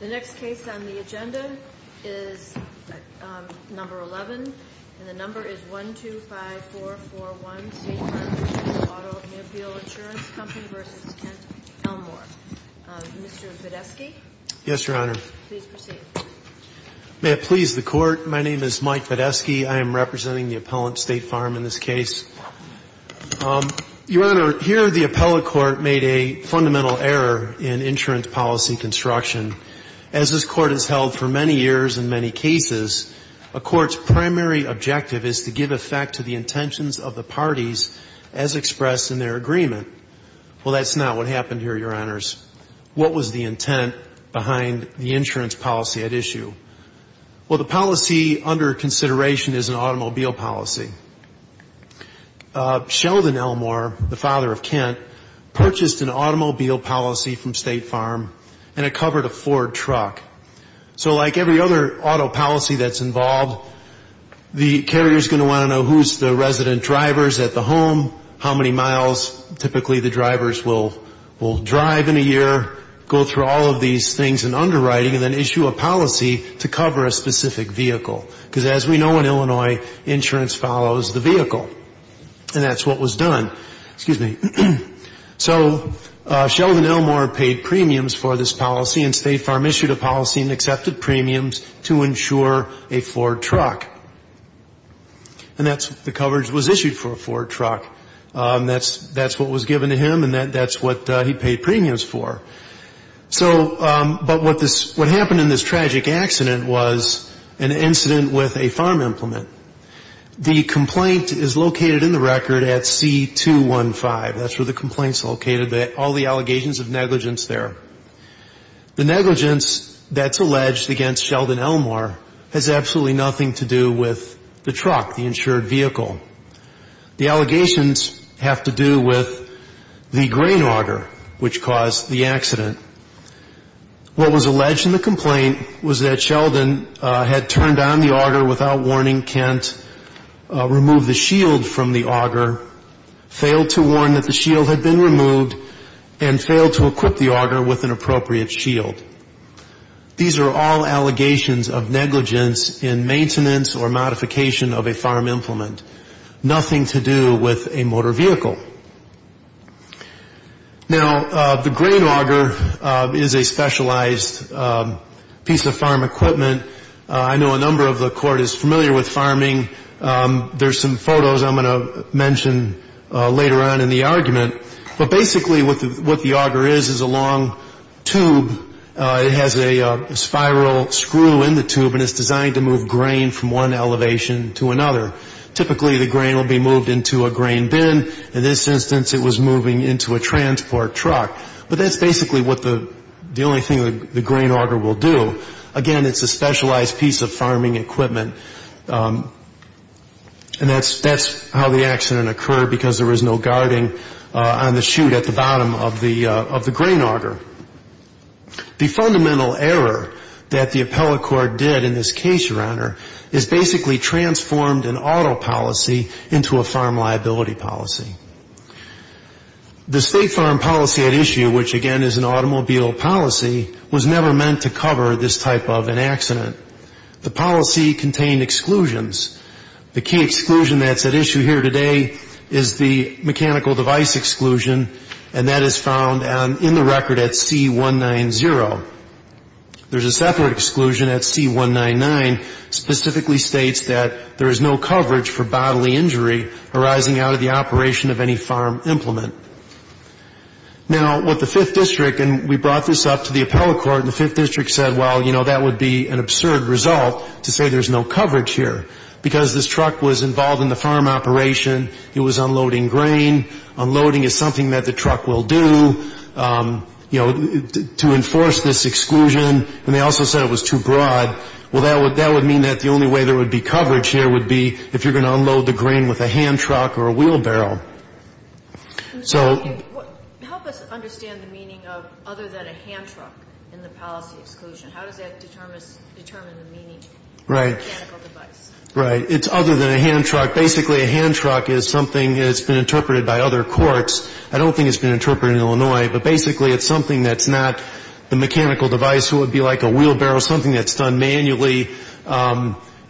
The next case on the agenda is number 11, and the number is 125441 State Farm Mutual Automobile Insurance Company v. Kent Elmore. Mr. Podesky. Yes, Your Honor. Please proceed. May it please the Court, my name is Mike Podesky. I am representing the appellant, State Farm, in this case. Your Honor, here the appellate court made a fundamental error in insurance policy construction. As this court has held for many years in many cases, a court's primary objective is to give effect to the intentions of the parties as expressed in their agreement. Well, that's not what happened here, Your Honors. What was the intent behind the insurance policy at issue? Well, the policy under consideration is an automobile policy. Sheldon Elmore, the father of Kent, purchased an automobile policy from State Farm, and it covered a Ford truck. So like every other auto policy that's involved, the carrier's going to want to know who's the resident drivers at the home, how many miles. Typically, the drivers will drive in a year, go through all of these things in underwriting, and then issue a policy to cover a specific vehicle. Because as we know in Illinois, insurance follows the vehicle. And that's what was done. Excuse me. So Sheldon Elmore paid premiums for this policy, and State Farm issued a policy and accepted premiums to insure a Ford truck. And that's what the coverage was issued for, a Ford truck. That's what was given to him, and that's what he paid premiums for. So but what happened in this tragic accident was an incident with a farm implement. The complaint is located in the record at C215. That's where the complaint's located, all the allegations of negligence there. The negligence that's alleged against Sheldon Elmore has absolutely nothing to do with the truck, the insured vehicle. The allegations have to do with the grain auger which caused the accident. What was alleged in the complaint was that Sheldon had turned on the auger without warning, removed the shield from the auger, failed to warn that the shield had been removed, and failed to equip the auger with an appropriate shield. These are all allegations of negligence in maintenance or modification of a farm implement. Nothing to do with a motor vehicle. Now, the grain auger is a specialized piece of farm equipment. I know a number of the Court is familiar with farming. There's some photos I'm going to mention later on in the argument. But basically what the auger is is a long tube. It has a spiral screw in the tube, and it's designed to move grain from one elevation to another. Typically, the grain will be moved into a grain bin. In this instance, it was moving into a transport truck. But that's basically what the only thing the grain auger will do. Again, it's a specialized piece of farming equipment. And that's how the accident occurred, because there was no guarding on the chute at the bottom of the grain auger. The fundamental error that the appellate court did in this case, Your Honor, is basically transformed an auto policy into a farm liability policy. The state farm policy at issue, which, again, is an automobile policy, was never meant to cover this type of an accident. The policy contained exclusions. The key exclusion that's at issue here today is the mechanical device exclusion, and that is found in the record at C190. There's a separate exclusion at C199 specifically states that there is no coverage for bodily injury arising out of the operation of any farm implement. Now, with the Fifth District, and we brought this up to the appellate court, and the Fifth District said, well, you know, that would be an absurd result to say there's no coverage here, because this truck was involved in the farm operation. It was unloading grain. Unloading is something that the truck will do, you know, to enforce this exclusion. And they also said it was too broad. Well, that would mean that the only way there would be coverage here would be if you're going to unload the grain with a hand truck or a wheelbarrow. So — Help us understand the meaning of other than a hand truck in the policy exclusion. How does that determine the meaning of mechanical device? Right. It's other than a hand truck. Basically, a hand truck is something that's been interpreted by other courts. I don't think it's been interpreted in Illinois, but basically it's something that's not the mechanical device, so it would be like a wheelbarrow, something that's done manually.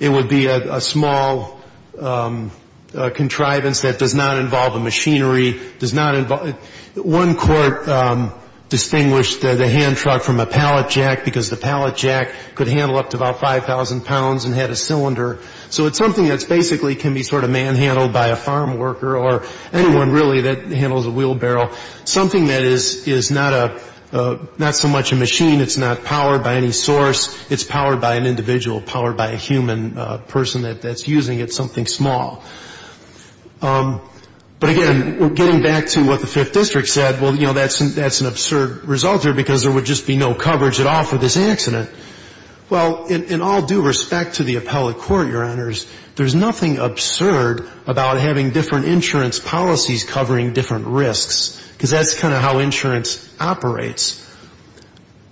It would be a small contrivance that does not involve a machinery, does not involve — one court distinguished the hand truck from a pallet jack, because the pallet jack could handle up to about 5,000 pounds and had a cylinder. So it's something that basically can be sort of manhandled by a farm worker or anyone, really, that handles a wheelbarrow, something that is not so much a machine, it's not powered by any source, it's powered by an individual, powered by a human person that's using it, something small. But again, getting back to what the Fifth District said, well, you know, that's an absurd result here because there would just be no coverage at all for this accident. Well, in all due respect to the appellate court, Your Honors, there's nothing absurd about having different insurance policies covering different risks, because that's kind of how insurance operates.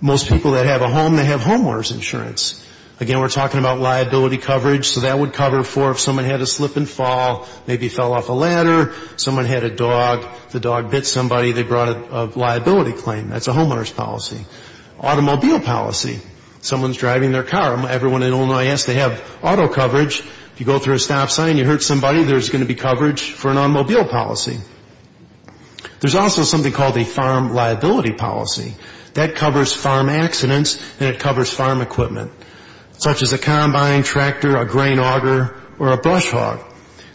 Most people that have a home, they have homeowner's insurance. Again, we're talking about liability coverage, so that would cover for if someone had a slip and fall, maybe fell off a ladder, someone had a dog, the dog bit somebody, they brought a liability claim. That's a homeowner's policy. Automobile policy. Someone's driving their car. Everyone in Illinois has to have auto coverage. If you go through a stop sign, you hurt somebody, there's going to be coverage for an automobile policy. There's also something called a farm liability policy. That covers farm accidents and it covers farm equipment, such as a combine, tractor, a grain auger, or a brush hog.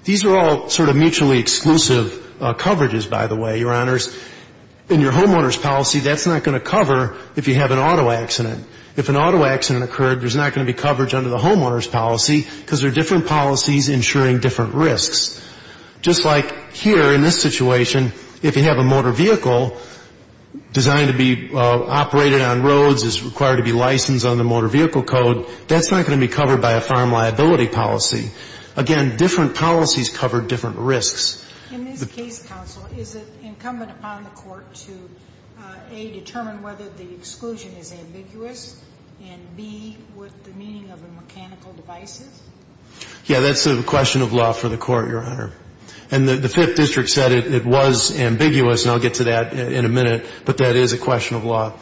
These are all sort of mutually exclusive coverages, by the way, Your Honors. In your homeowner's policy, that's not going to cover if you have an auto accident. If an auto accident occurred, there's not going to be coverage under the homeowner's policy because there are different policies insuring different risks. Just like here in this situation, if you have a motor vehicle designed to be operated on roads, is required to be licensed on the motor vehicle code, that's not going to be covered by a farm liability policy. Again, different policies cover different risks. In this case, counsel, is it incumbent upon the court to, A, determine whether the exclusion is ambiguous, and B, what the meaning of the mechanical device is? Yeah, that's a question of law for the court, Your Honor. And the Fifth District said it was ambiguous, and I'll get to that in a minute, but that is a question of law.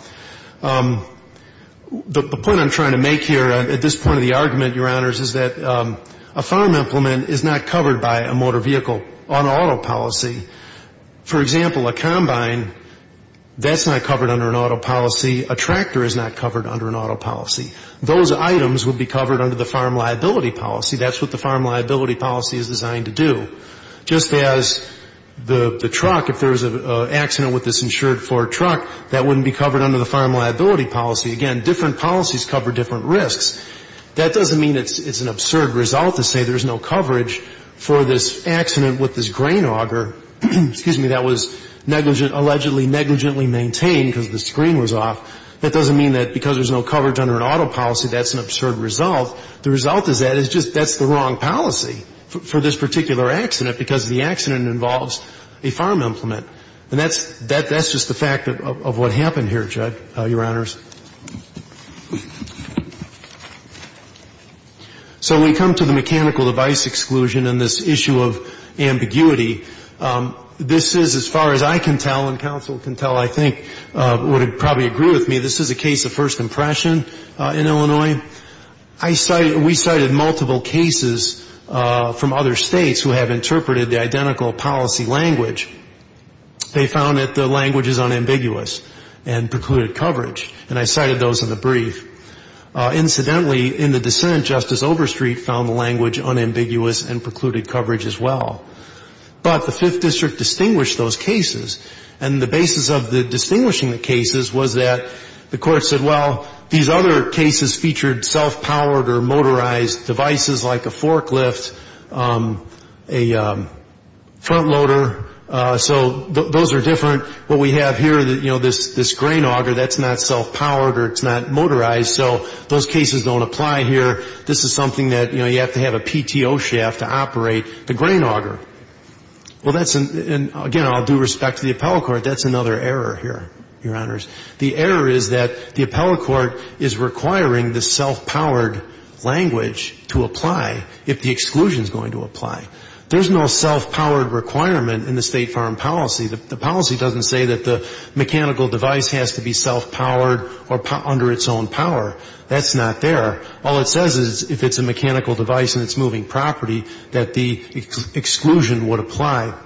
The point I'm trying to make here at this point of the argument, Your Honors, is that a farm implement is not covered by a motor vehicle on auto policy. For example, a combine, that's not covered under an auto policy. A tractor is not covered under an auto policy. Those items would be covered under the farm liability policy. That's what the farm liability policy is designed to do. Just as the truck, if there was an accident with this insured Ford truck, that wouldn't be covered under the farm liability policy. Again, different policies cover different risks. That doesn't mean it's an absurd result to say there's no coverage for this accident with this grain auger, excuse me, that was negligently maintained because the screen was off. That doesn't mean that because there's no coverage under an auto policy, that's an absurd result. The result of that is just that's the wrong policy for this particular accident because the accident involves a farm implement. And that's just the fact of what happened here, Judge, Your Honors. So we come to the mechanical device exclusion and this issue of ambiguity. This is, as far as I can tell and counsel can tell, I think, would probably agree with me, this is a case of first impression in Illinois. We cited multiple cases from other states who have interpreted the identical policy language. They found that the language is unambiguous and precluded coverage. And I cited those in the brief. Incidentally, in the dissent, Justice Overstreet found the language unambiguous and precluded coverage as well. But the Fifth District distinguished those cases. And the basis of distinguishing the cases was that the Court said, well, these other cases featured self-powered or motorized devices like a forklift, a front loader. So those are different. What we have here, you know, this grain auger, that's not self-powered or it's not motorized. So those cases don't apply here. This is something that, you know, you have to have a PTO shaft to operate the grain auger. Well, that's an — and, again, I'll do respect to the appellate court, that's another error here, Your Honors. The error is that the appellate court is requiring the self-powered language to apply if the exclusion is going to apply. There's no self-powered requirement in the State Farm policy. The policy doesn't say that the mechanical device has to be self-powered or under its own power. That's not there. All it says is if it's a mechanical device and it's moving property, that the exclusion would apply.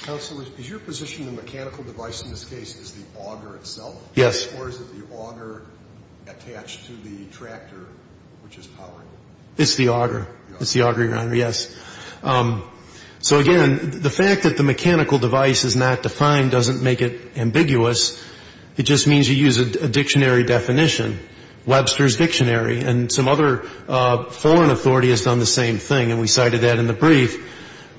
Counsel, is your position the mechanical device in this case is the auger itself? Yes. Or is it the auger attached to the tractor, which is powering it? It's the auger. It's the auger, Your Honor. Yes. So, again, the fact that the mechanical device is not defined doesn't make it ambiguous. It just means you use a dictionary definition. Webster's Dictionary and some other foreign authority has done the same thing, and we cited that in the brief.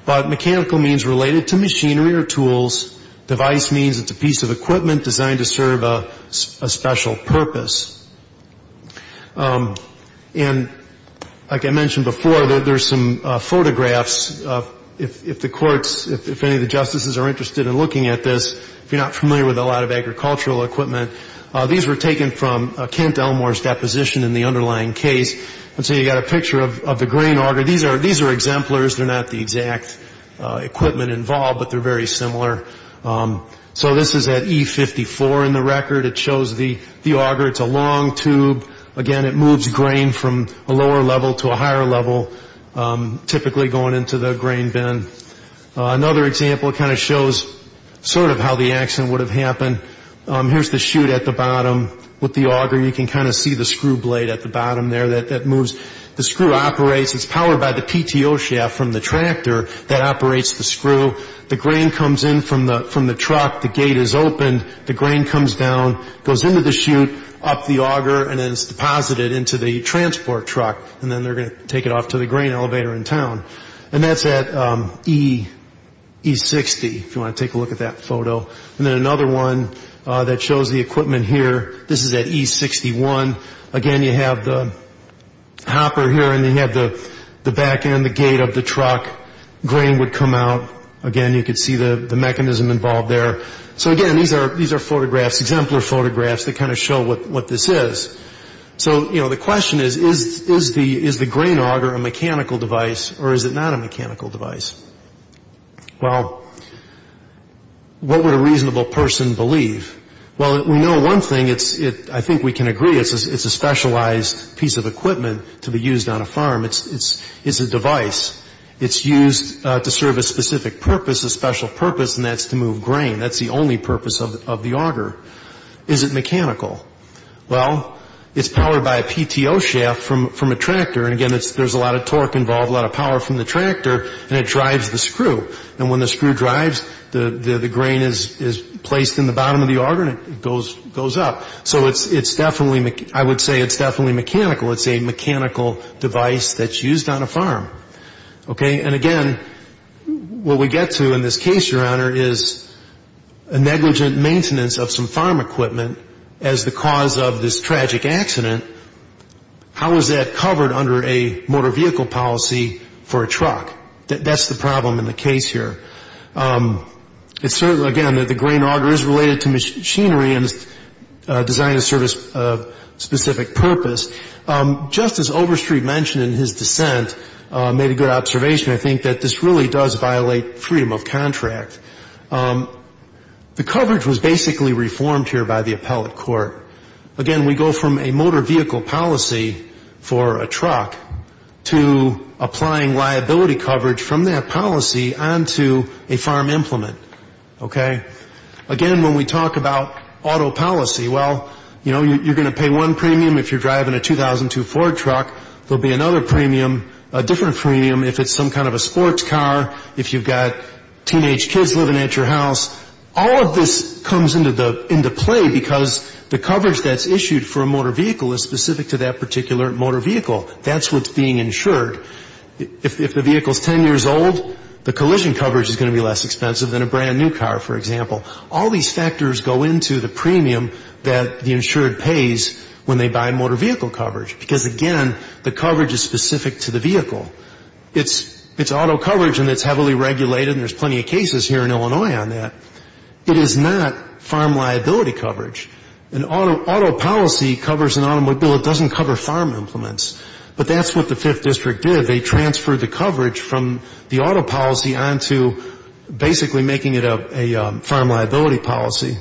But mechanical means related to machinery or tools. Device means it's a piece of equipment designed to serve a special purpose. And like I mentioned before, there's some photographs. If the courts, if any of the justices are interested in looking at this, if you're not Elmore's deposition in the underlying case. And so you've got a picture of the grain auger. These are exemplars. They're not the exact equipment involved, but they're very similar. So this is at E54 in the record. It shows the auger. It's a long tube. Again, it moves grain from a lower level to a higher level, typically going into the grain bin. Another example kind of shows sort of how the accident would have happened. And here's the chute at the bottom with the auger. You can kind of see the screw blade at the bottom there that moves. The screw operates. It's powered by the PTO shaft from the tractor that operates the screw. The grain comes in from the truck. The gate is opened. The grain comes down, goes into the chute, up the auger, and then it's deposited into the transport truck. And then they're going to take it off to the grain elevator in town. And that's at E60, if you want to take a look at that photo. And then another one that shows the equipment here. This is at E61. Again, you have the hopper here, and you have the back end, the gate of the truck. Grain would come out. Again, you could see the mechanism involved there. So, again, these are photographs, exemplar photographs that kind of show what this is. So, you know, the question is, is the grain auger a mechanical device, or is it not a mechanical device? Well, what would a reasonable person believe? Well, we know one thing. I think we can agree it's a specialized piece of equipment to be used on a farm. It's a device. It's used to serve a specific purpose, a special purpose, and that's to move grain. That's the only purpose of the auger. Is it mechanical? Well, it's powered by a PTO shaft from a tractor. And, again, there's a lot of torque involved, a lot of power from the tractor, and it drives the screw. And when the screw drives, the grain is placed in the bottom of the auger, and it goes up. So it's definitely, I would say it's definitely mechanical. It's a mechanical device that's used on a farm. Okay? And, again, what we get to in this case, Your Honor, is a negligent maintenance of some farm equipment as the cause of this tragic accident. How is that covered under a motor vehicle policy for a truck? That's the problem in the case here. It's certainly, again, that the grain auger is related to machinery and is designed to serve a specific purpose. Justice Overstreet mentioned in his dissent, made a good observation, I think, that this really does violate freedom of contract. The coverage was basically reformed here by the appellate court. Again, we go from a motor vehicle policy for a truck to applying liability coverage from that policy onto a farm implement. Okay? Again, when we talk about auto policy, well, you know, you're going to pay one premium if you're driving a 2002 Ford truck. There will be another premium, a different premium if it's some kind of a sports car, if you've got teenage kids living at your house. All of this comes into play because the coverage that's issued for a motor vehicle is specific to that particular motor vehicle. That's what's being insured. If the vehicle is 10 years old, the collision coverage is going to be less expensive than a brand-new car, for example. All these factors go into the premium that the insured pays when they buy motor vehicle coverage because, again, the coverage is specific to the vehicle. It's auto coverage, and it's heavily regulated, and there's plenty of cases here in Illinois on that. It is not farm liability coverage. An auto policy covers an automobile. It doesn't cover farm implements. But that's what the Fifth District did. They transferred the coverage from the auto policy onto basically making it a farm liability policy.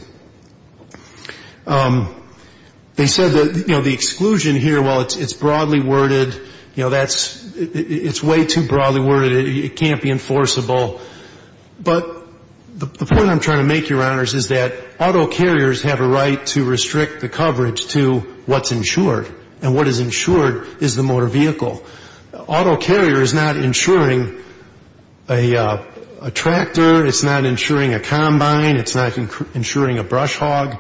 They said that the exclusion here, while it's broadly worded, it's way too broadly worded. It can't be enforceable. But the point I'm trying to make, Your Honors, is that auto carriers have a right to restrict the coverage to what's insured, and what is insured is the motor vehicle. Auto carrier is not insuring a tractor. It's not insuring a combine. It's not insuring a brush hog.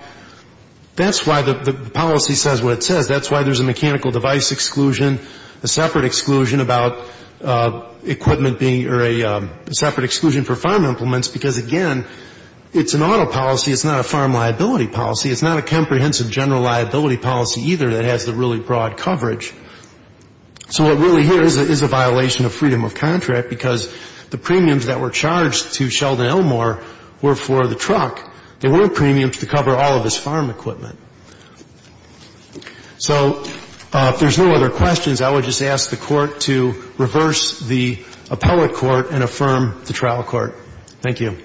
That's why the policy says what it says. That's why there's a mechanical device exclusion, a separate exclusion about equipment being or a separate exclusion for farm implements because, again, it's an auto policy. It's not a farm liability policy. It's not a comprehensive general liability policy either that has the really broad coverage. So what really here is a violation of freedom of contract because the premiums that were charged to Sheldon Elmore were for the truck. They weren't premiums to cover all of his farm equipment. So if there's no other questions, I would just ask the Court to reverse the appellate court and affirm the trial court. Thank you.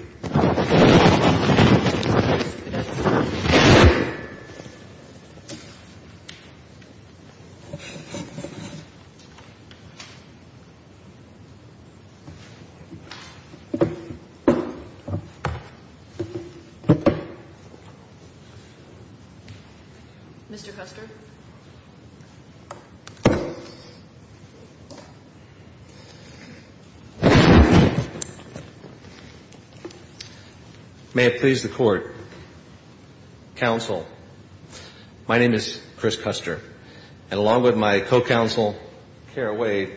Mr. Custer. May it please the Court. Counsel, my name is Chris Custer, and along with my co-counsel, Kara Wade,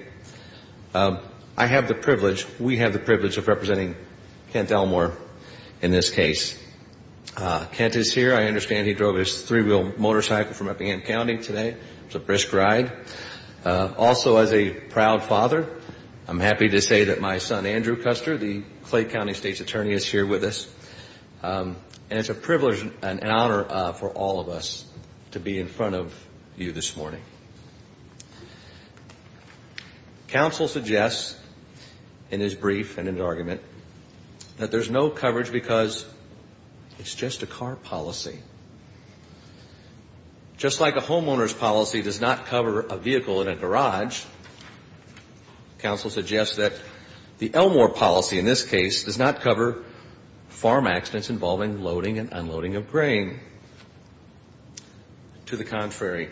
I have the privilege, we have the privilege of representing Kent Elmore in this case. Kent is here. I understand he drove his three-wheel motorcycle from Eppingham County today. It was a brisk ride. Also, as a proud father, I'm happy to say that my son, Andrew Custer, the Clay County State's attorney, is here with us. And it's a privilege and an honor for all of us to be in front of you this morning. Counsel suggests in his brief and in his argument that there's no coverage because it's just a car policy. Just like a homeowner's policy does not cover a vehicle in a garage, counsel suggests that the Elmore policy in this case does not cover farm accidents involving loading and unloading of grain. To the contrary,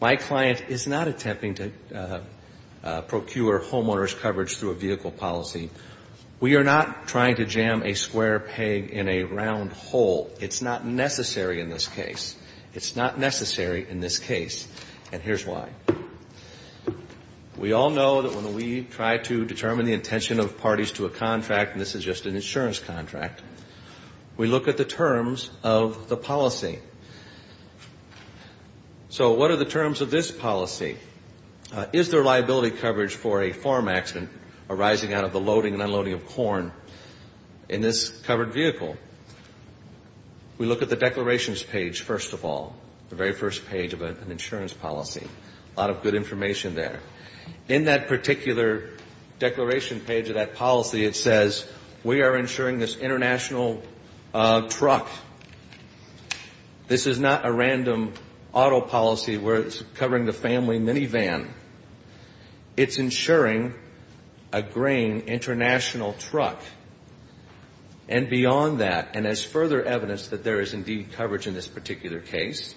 my client is not attempting to procure homeowners' coverage through a vehicle policy. We are not trying to jam a square peg in a round hole. It's not necessary in this case. It's not necessary in this case, and here's why. We all know that when we try to determine the intention of parties to a contract, and this is just an insurance contract, we look at the terms of the policy. So what are the terms of this policy? Is there liability coverage for a farm accident arising out of the loading and unloading of corn in this covered vehicle? We look at the declarations page, first of all, the very first page of an insurance policy. A lot of good information there. In that particular declaration page of that policy, it says we are insuring this international truck. This is not a random auto policy where it's covering the family minivan. It's insuring a grain international truck. And beyond that, and as further evidence that there is indeed coverage in this particular case,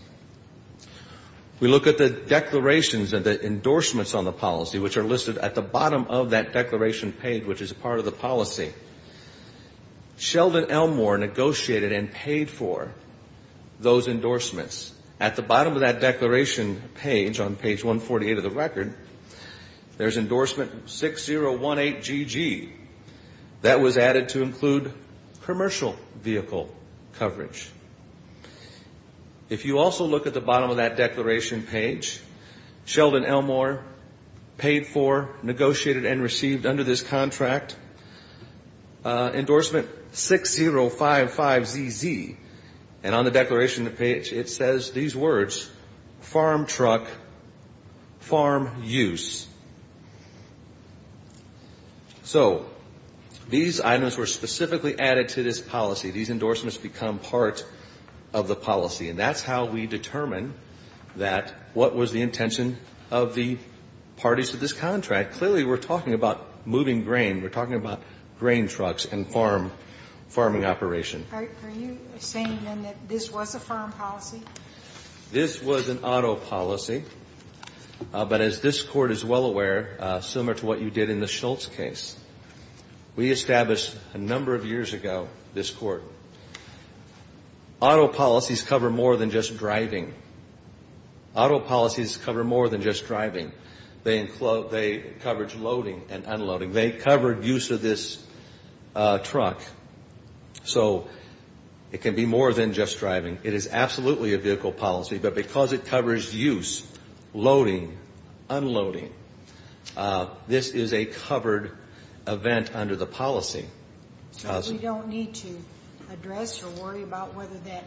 we look at the declarations and the endorsements on the policy, which are listed at the bottom of that declaration page, which is part of the policy. Sheldon Elmore negotiated and paid for those endorsements. At the bottom of that declaration page, on page 148 of the record, there's endorsement 6018GG. That was added to include commercial vehicle coverage. If you also look at the bottom of that declaration page, Sheldon Elmore paid for, negotiated, and received under this contract endorsement 6055ZZ. And on the declaration page, it says these words, farm truck, farm use. So these items were specifically added to this policy. These endorsements become part of the policy. And that's how we determine that what was the intention of the parties to this contract. Clearly, we're talking about moving grain. We're talking about grain trucks and farm, farming operation. Are you saying, then, that this was a farm policy? This was an auto policy. But as this Court is well aware, similar to what you did in the Schultz case, we established a number of years ago, this Court, auto policies cover more than just driving. Auto policies cover more than just driving. They coverage loading and unloading. They covered use of this truck. So it can be more than just driving. It is absolutely a vehicle policy, but because it covers use, loading, unloading, this is a covered event under the policy. So we don't need to address or worry about whether that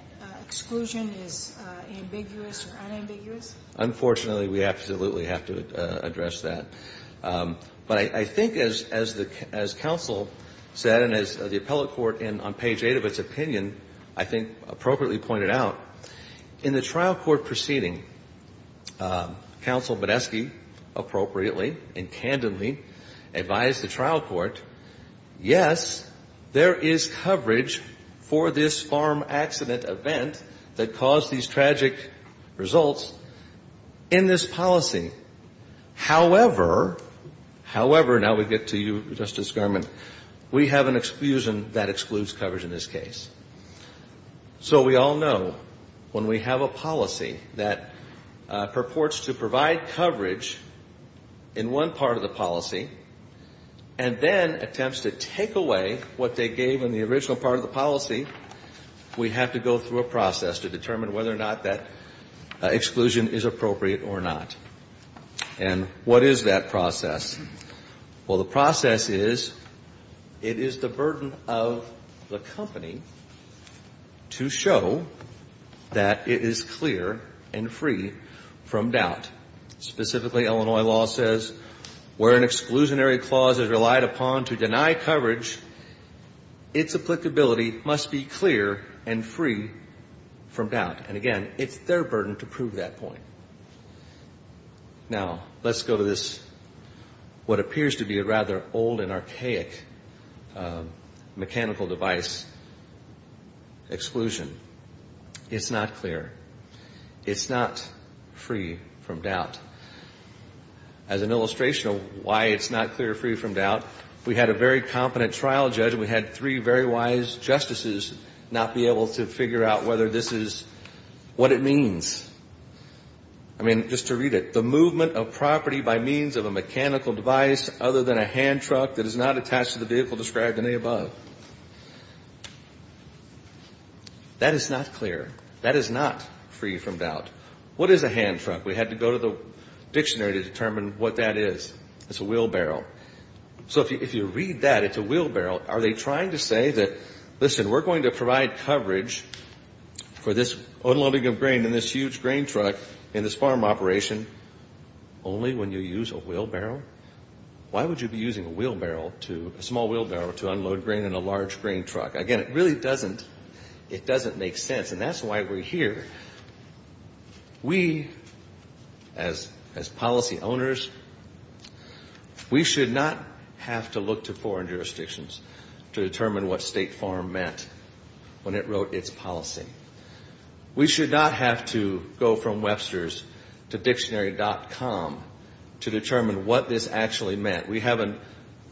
exclusion is ambiguous or unambiguous? Unfortunately, we absolutely have to address that. But I think, as counsel said, and as the appellate court on page 8 of its opinion, I think, appropriately pointed out, in the trial court proceeding, counsel Badesky appropriately and candidly advised the trial court, yes, there is coverage for this farm accident event that caused these tragic results in this policy. However, however, now we get to you, Justice Garment, we have an exclusion that excludes coverage in this case. So we all know when we have a policy that purports to provide coverage in one part of the policy and then attempts to take away what they gave in the original part of the policy, we have to go through a process to determine whether or not that exclusion is appropriate or not. And what is that process? Well, the process is it is the burden of the company to show that it is clear and free from doubt. Specifically, Illinois law says where an exclusionary clause is relied upon to deny coverage, its applicability must be clear and free from doubt. And, again, it's their burden to prove that point. Now, let's go to this, what appears to be a rather old and archaic mechanical device exclusion. It's not clear. It's not free from doubt. As an illustration of why it's not clear, free from doubt, we had a very competent trial judge and we had three very wise justices not be able to figure out whether this is what it means. I mean, just to read it, the movement of property by means of a mechanical device other than a hand truck that is not attached to the vehicle described in the above. That is not clear. That is not free from doubt. What is a hand truck? We had to go to the dictionary to determine what that is. It's a wheelbarrow. So if you read that, it's a wheelbarrow. Are they trying to say that, listen, we're going to provide coverage for this unloading of grain in this huge grain truck in this farm operation only when you use a wheelbarrow? Why would you be using a wheelbarrow, a small wheelbarrow, to unload grain in a large grain truck? Again, it really doesn't make sense. And that's why we're here. We, as policy owners, we should not have to look to foreign jurisdictions to determine what state farm meant when it wrote its policy. We should not have to go from Webster's to dictionary.com to determine what this actually meant. We have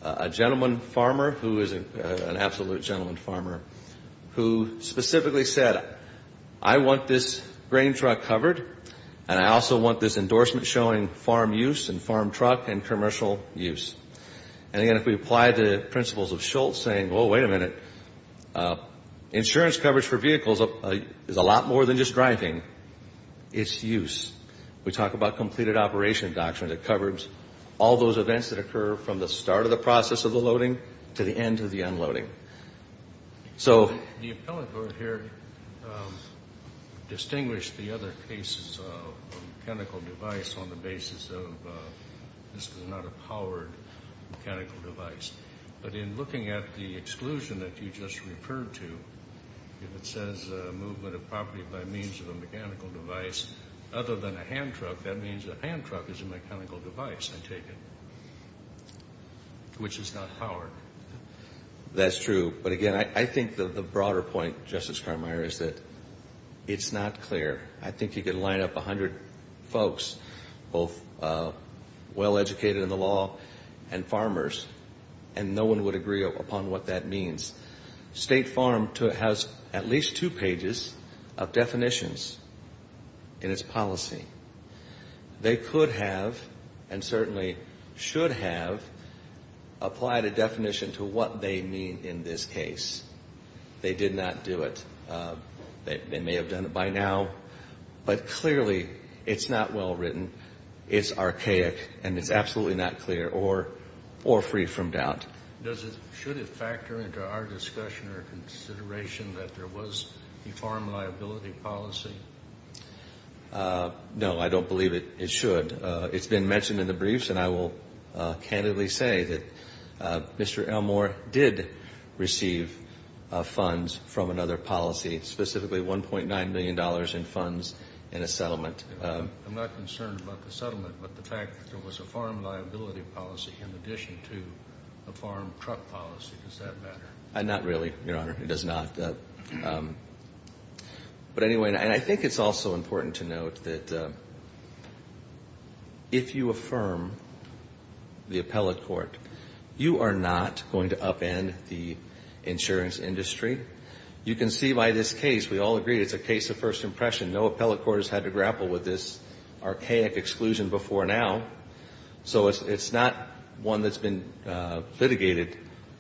a gentleman farmer who is an absolute gentleman farmer who specifically said, I want this grain truck covered, and I also want this endorsement showing farm use and farm truck and commercial use. And, again, if we apply the principles of Schultz saying, oh, wait a minute, insurance coverage for vehicles is a lot more than just driving. It's use. We talk about completed operation doctrine that covers all those events that occur from the start of the process of the loading to the end of the unloading. So the appellant over here distinguished the other cases of a mechanical device on the basis of this was not a powered mechanical device. But in looking at the exclusion that you just referred to, if it says movement of property by means of a mechanical device other than a hand truck, that means a hand truck is a mechanical device, I take it, which is not powered. That's true. But, again, I think the broader point, Justice Carmier, is that it's not clear. I think you could line up 100 folks, both well-educated in the law and farmers, and no one would agree upon what that means. State Farm has at least two pages of definitions in its policy. They could have and certainly should have applied a definition to what they mean in this case. They did not do it. They may have done it by now, but clearly it's not well written. It's archaic, and it's absolutely not clear or free from doubt. Should it factor into our discussion or consideration that there was a farm liability policy? No, I don't believe it should. It's been mentioned in the briefs, and I will candidly say that Mr. Elmore did receive funds from another policy, specifically $1.9 million in funds in a settlement. I'm not concerned about the settlement, but the fact that there was a farm liability policy in addition to a farm truck policy, does that matter? Not really, Your Honor. It does not. But anyway, and I think it's also important to note that if you affirm the appellate court, you are not going to upend the insurance industry. You can see by this case, we all agree it's a case of first impression. No appellate court has had to grapple with this archaic exclusion before now, so it's not one that's been litigated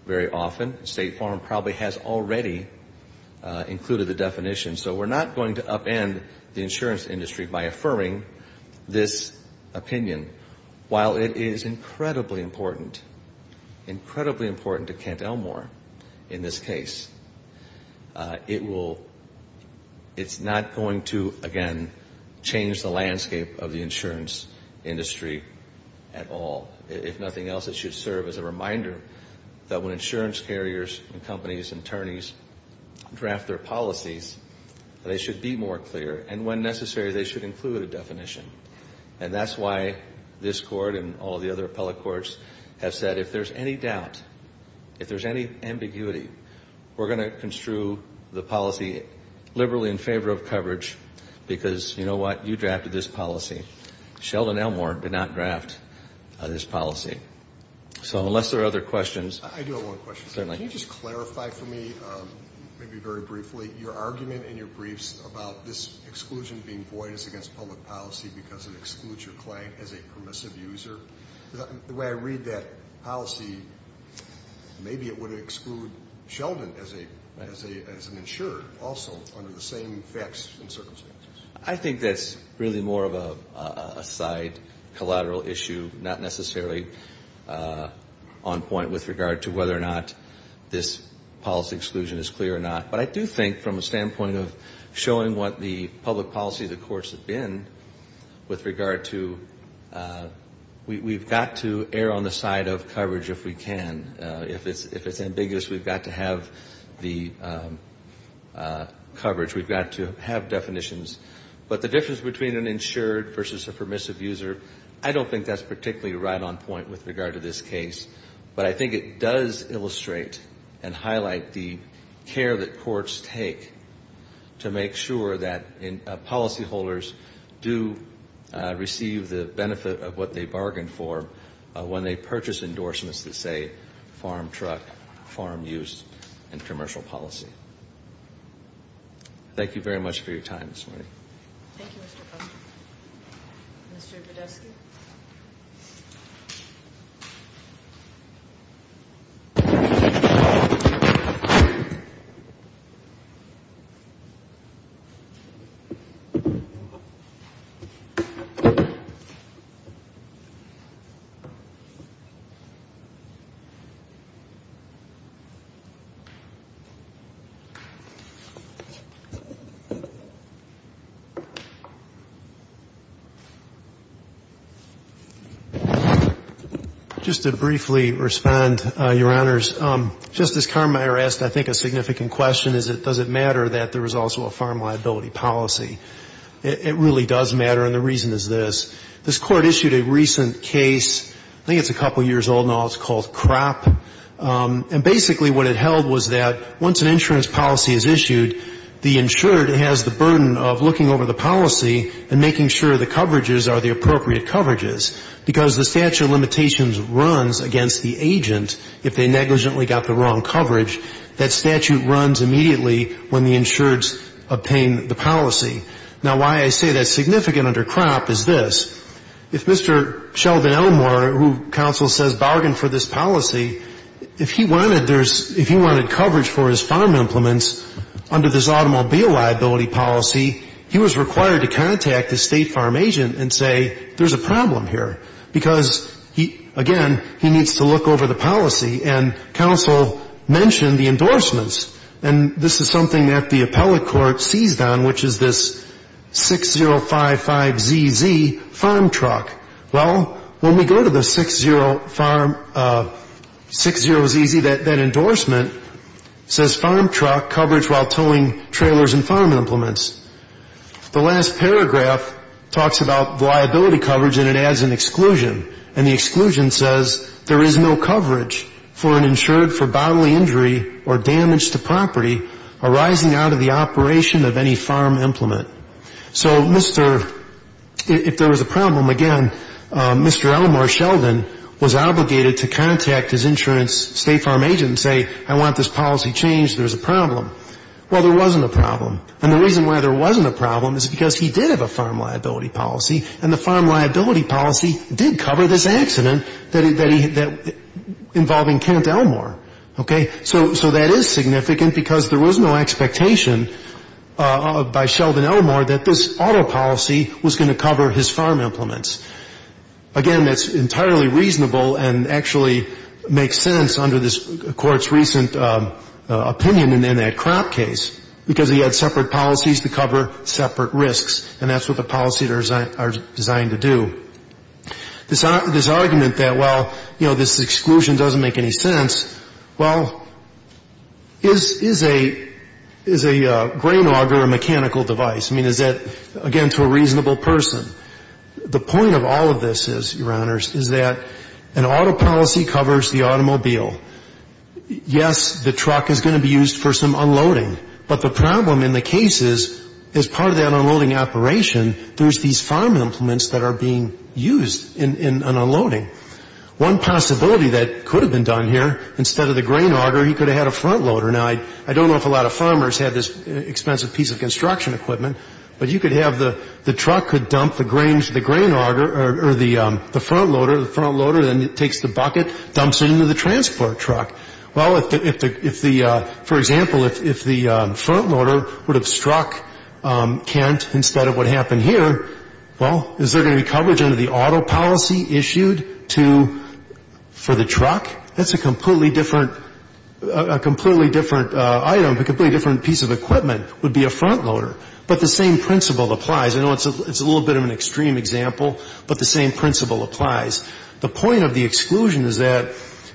very often. State Farm probably has already included the definition, so we're not going to upend the insurance industry by affirming this opinion. While it is incredibly important, incredibly important to Kent Elmore in this case, it's not going to, again, change the landscape of the insurance industry at all. If nothing else, it should serve as a reminder that when insurance carriers and companies and attorneys draft their policies, they should be more clear, and when necessary, they should include a definition. And that's why this Court and all the other appellate courts have said if there's any doubt, if there's any ambiguity, we're going to construe the policy liberally in favor of coverage because, you know what, you drafted this policy. Sheldon Elmore did not draft this policy. So unless there are other questions. I do have one question. Certainly. Can you just clarify for me, maybe very briefly, your argument in your briefs about this exclusion being void as against public policy because it excludes your client as a permissive user? The way I read that policy, maybe it would exclude Sheldon as an insurer also under the same facts and circumstances. I think that's really more of a side, collateral issue, not necessarily on point with regard to whether or not this policy exclusion is clear or not. But I do think from a standpoint of showing what the public policy of the courts have been with regard to we've got to err on the side of coverage if we can. If it's ambiguous, we've got to have the coverage. We've got to have definitions. But the difference between an insured versus a permissive user, I don't think that's particularly right on point with regard to this case. But I think it does illustrate and highlight the care that courts take to make sure that policyholders do receive the benefit of what they bargained for when they purchase endorsements that say farm truck, farm use, and commercial policy. Thank you very much for your time this morning. Thank you, Mr. Fung. Mr. Bedersky. Just to briefly respond, Your Honors. Justice Carmeier asked, I think, a significant question, is it does it matter that there is also a farm liability policy? It really does matter, and the reason is this. This Court issued a recent case. I think it's a couple years old now. It's called CROP. And basically what it held was that once an insurance policy is issued, the insured has the burden of looking over the policy and making sure the coverages are the appropriate coverages because the statute of limitations runs against the agent if they negligently got the wrong coverage. That statute runs immediately when the insureds obtain the policy. Now, why I say that's significant under CROP is this. If Mr. Sheldon Elmore, who counsel says bargained for this policy, if he wanted coverage for his farm implements under this automobile liability policy, he was required to contact the state farm agent and say there's a problem here because, again, he needs to look over the policy. And counsel mentioned the endorsements, and this is something that the appellate court seized on, which is this 6055ZZ farm truck. Well, when we go to the 60ZZ, that endorsement, says farm truck coverage while towing trailers and farm implements. The last paragraph talks about liability coverage, and it adds an exclusion. And the exclusion says there is no coverage for an insured for bodily injury or damage to property arising out of the operation of any farm implement. So Mr. If there was a problem, again, Mr. Elmore Sheldon was obligated to contact his insurance and his state farm agent and say I want this policy changed. There's a problem. Well, there wasn't a problem. And the reason why there wasn't a problem is because he did have a farm liability policy, and the farm liability policy did cover this accident involving Kent Elmore. Okay? So that is significant because there was no expectation by Sheldon Elmore that this auto policy was going to cover his farm implements. Again, that's entirely reasonable and actually makes sense under this Court's recent opinion in that crop case because he had separate policies to cover separate risks, and that's what the policies are designed to do. This argument that, well, you know, this exclusion doesn't make any sense, well, is a grain auger a mechanical device? I mean, is that, again, to a reasonable person? The point of all of this is, Your Honors, is that an auto policy covers the automobile. Yes, the truck is going to be used for some unloading, but the problem in the case is as part of that unloading operation, there's these farm implements that are being used in unloading. One possibility that could have been done here, instead of the grain auger, he could have had a front loader. Now, I don't know if a lot of farmers had this expensive piece of construction equipment, but you could have the truck could dump the grains to the grain auger or the front loader. The front loader then takes the bucket, dumps it into the transport truck. Well, if the, for example, if the front loader would have struck Kent instead of what happened here, well, is there going to be coverage under the auto policy issued to, for the truck? That's a completely different, a completely different item, a completely different piece of equipment would be a front loader. But the same principle applies. I know it's a little bit of an extreme example, but the same principle applies. The point of the exclusion is that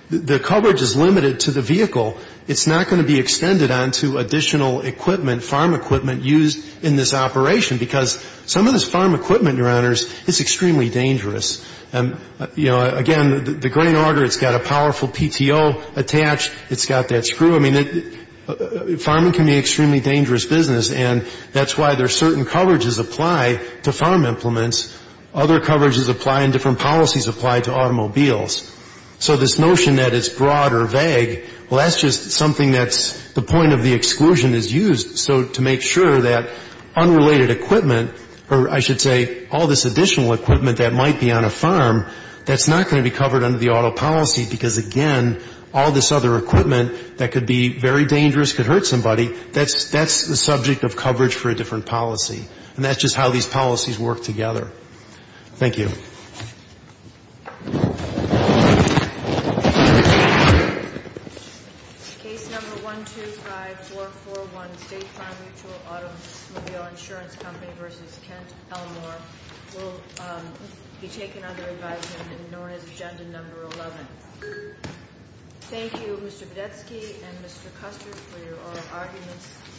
the coverage is limited to the vehicle. It's not going to be extended onto additional equipment, farm equipment, used in this operation, because some of this farm equipment, Your Honors, is extremely dangerous. And, you know, again, the grain auger, it's got a powerful PTO attached. It's got that screw. I mean, farming can be an extremely dangerous business, and that's why there are certain coverages apply to farm implements. Other coverages apply and different policies apply to automobiles. So this notion that it's broad or vague, well, that's just something that's the point of the exclusion is used. So to make sure that unrelated equipment, or I should say all this additional equipment that might be on a farm, that's not going to be covered under the auto policy because, again, all this other equipment that could be very dangerous could hurt somebody, that's the subject of coverage for a different policy. And that's just how these policies work together. Thank you. To the contrary. Thank you. Case number 125441, State Farm Mutual Automobile Insurance Company vs. Kent Elmore, will be taken under advisement in Norris Agenda Number 11. Thank you, Mr. Budetsky and Mr. Custer, for your oral arguments.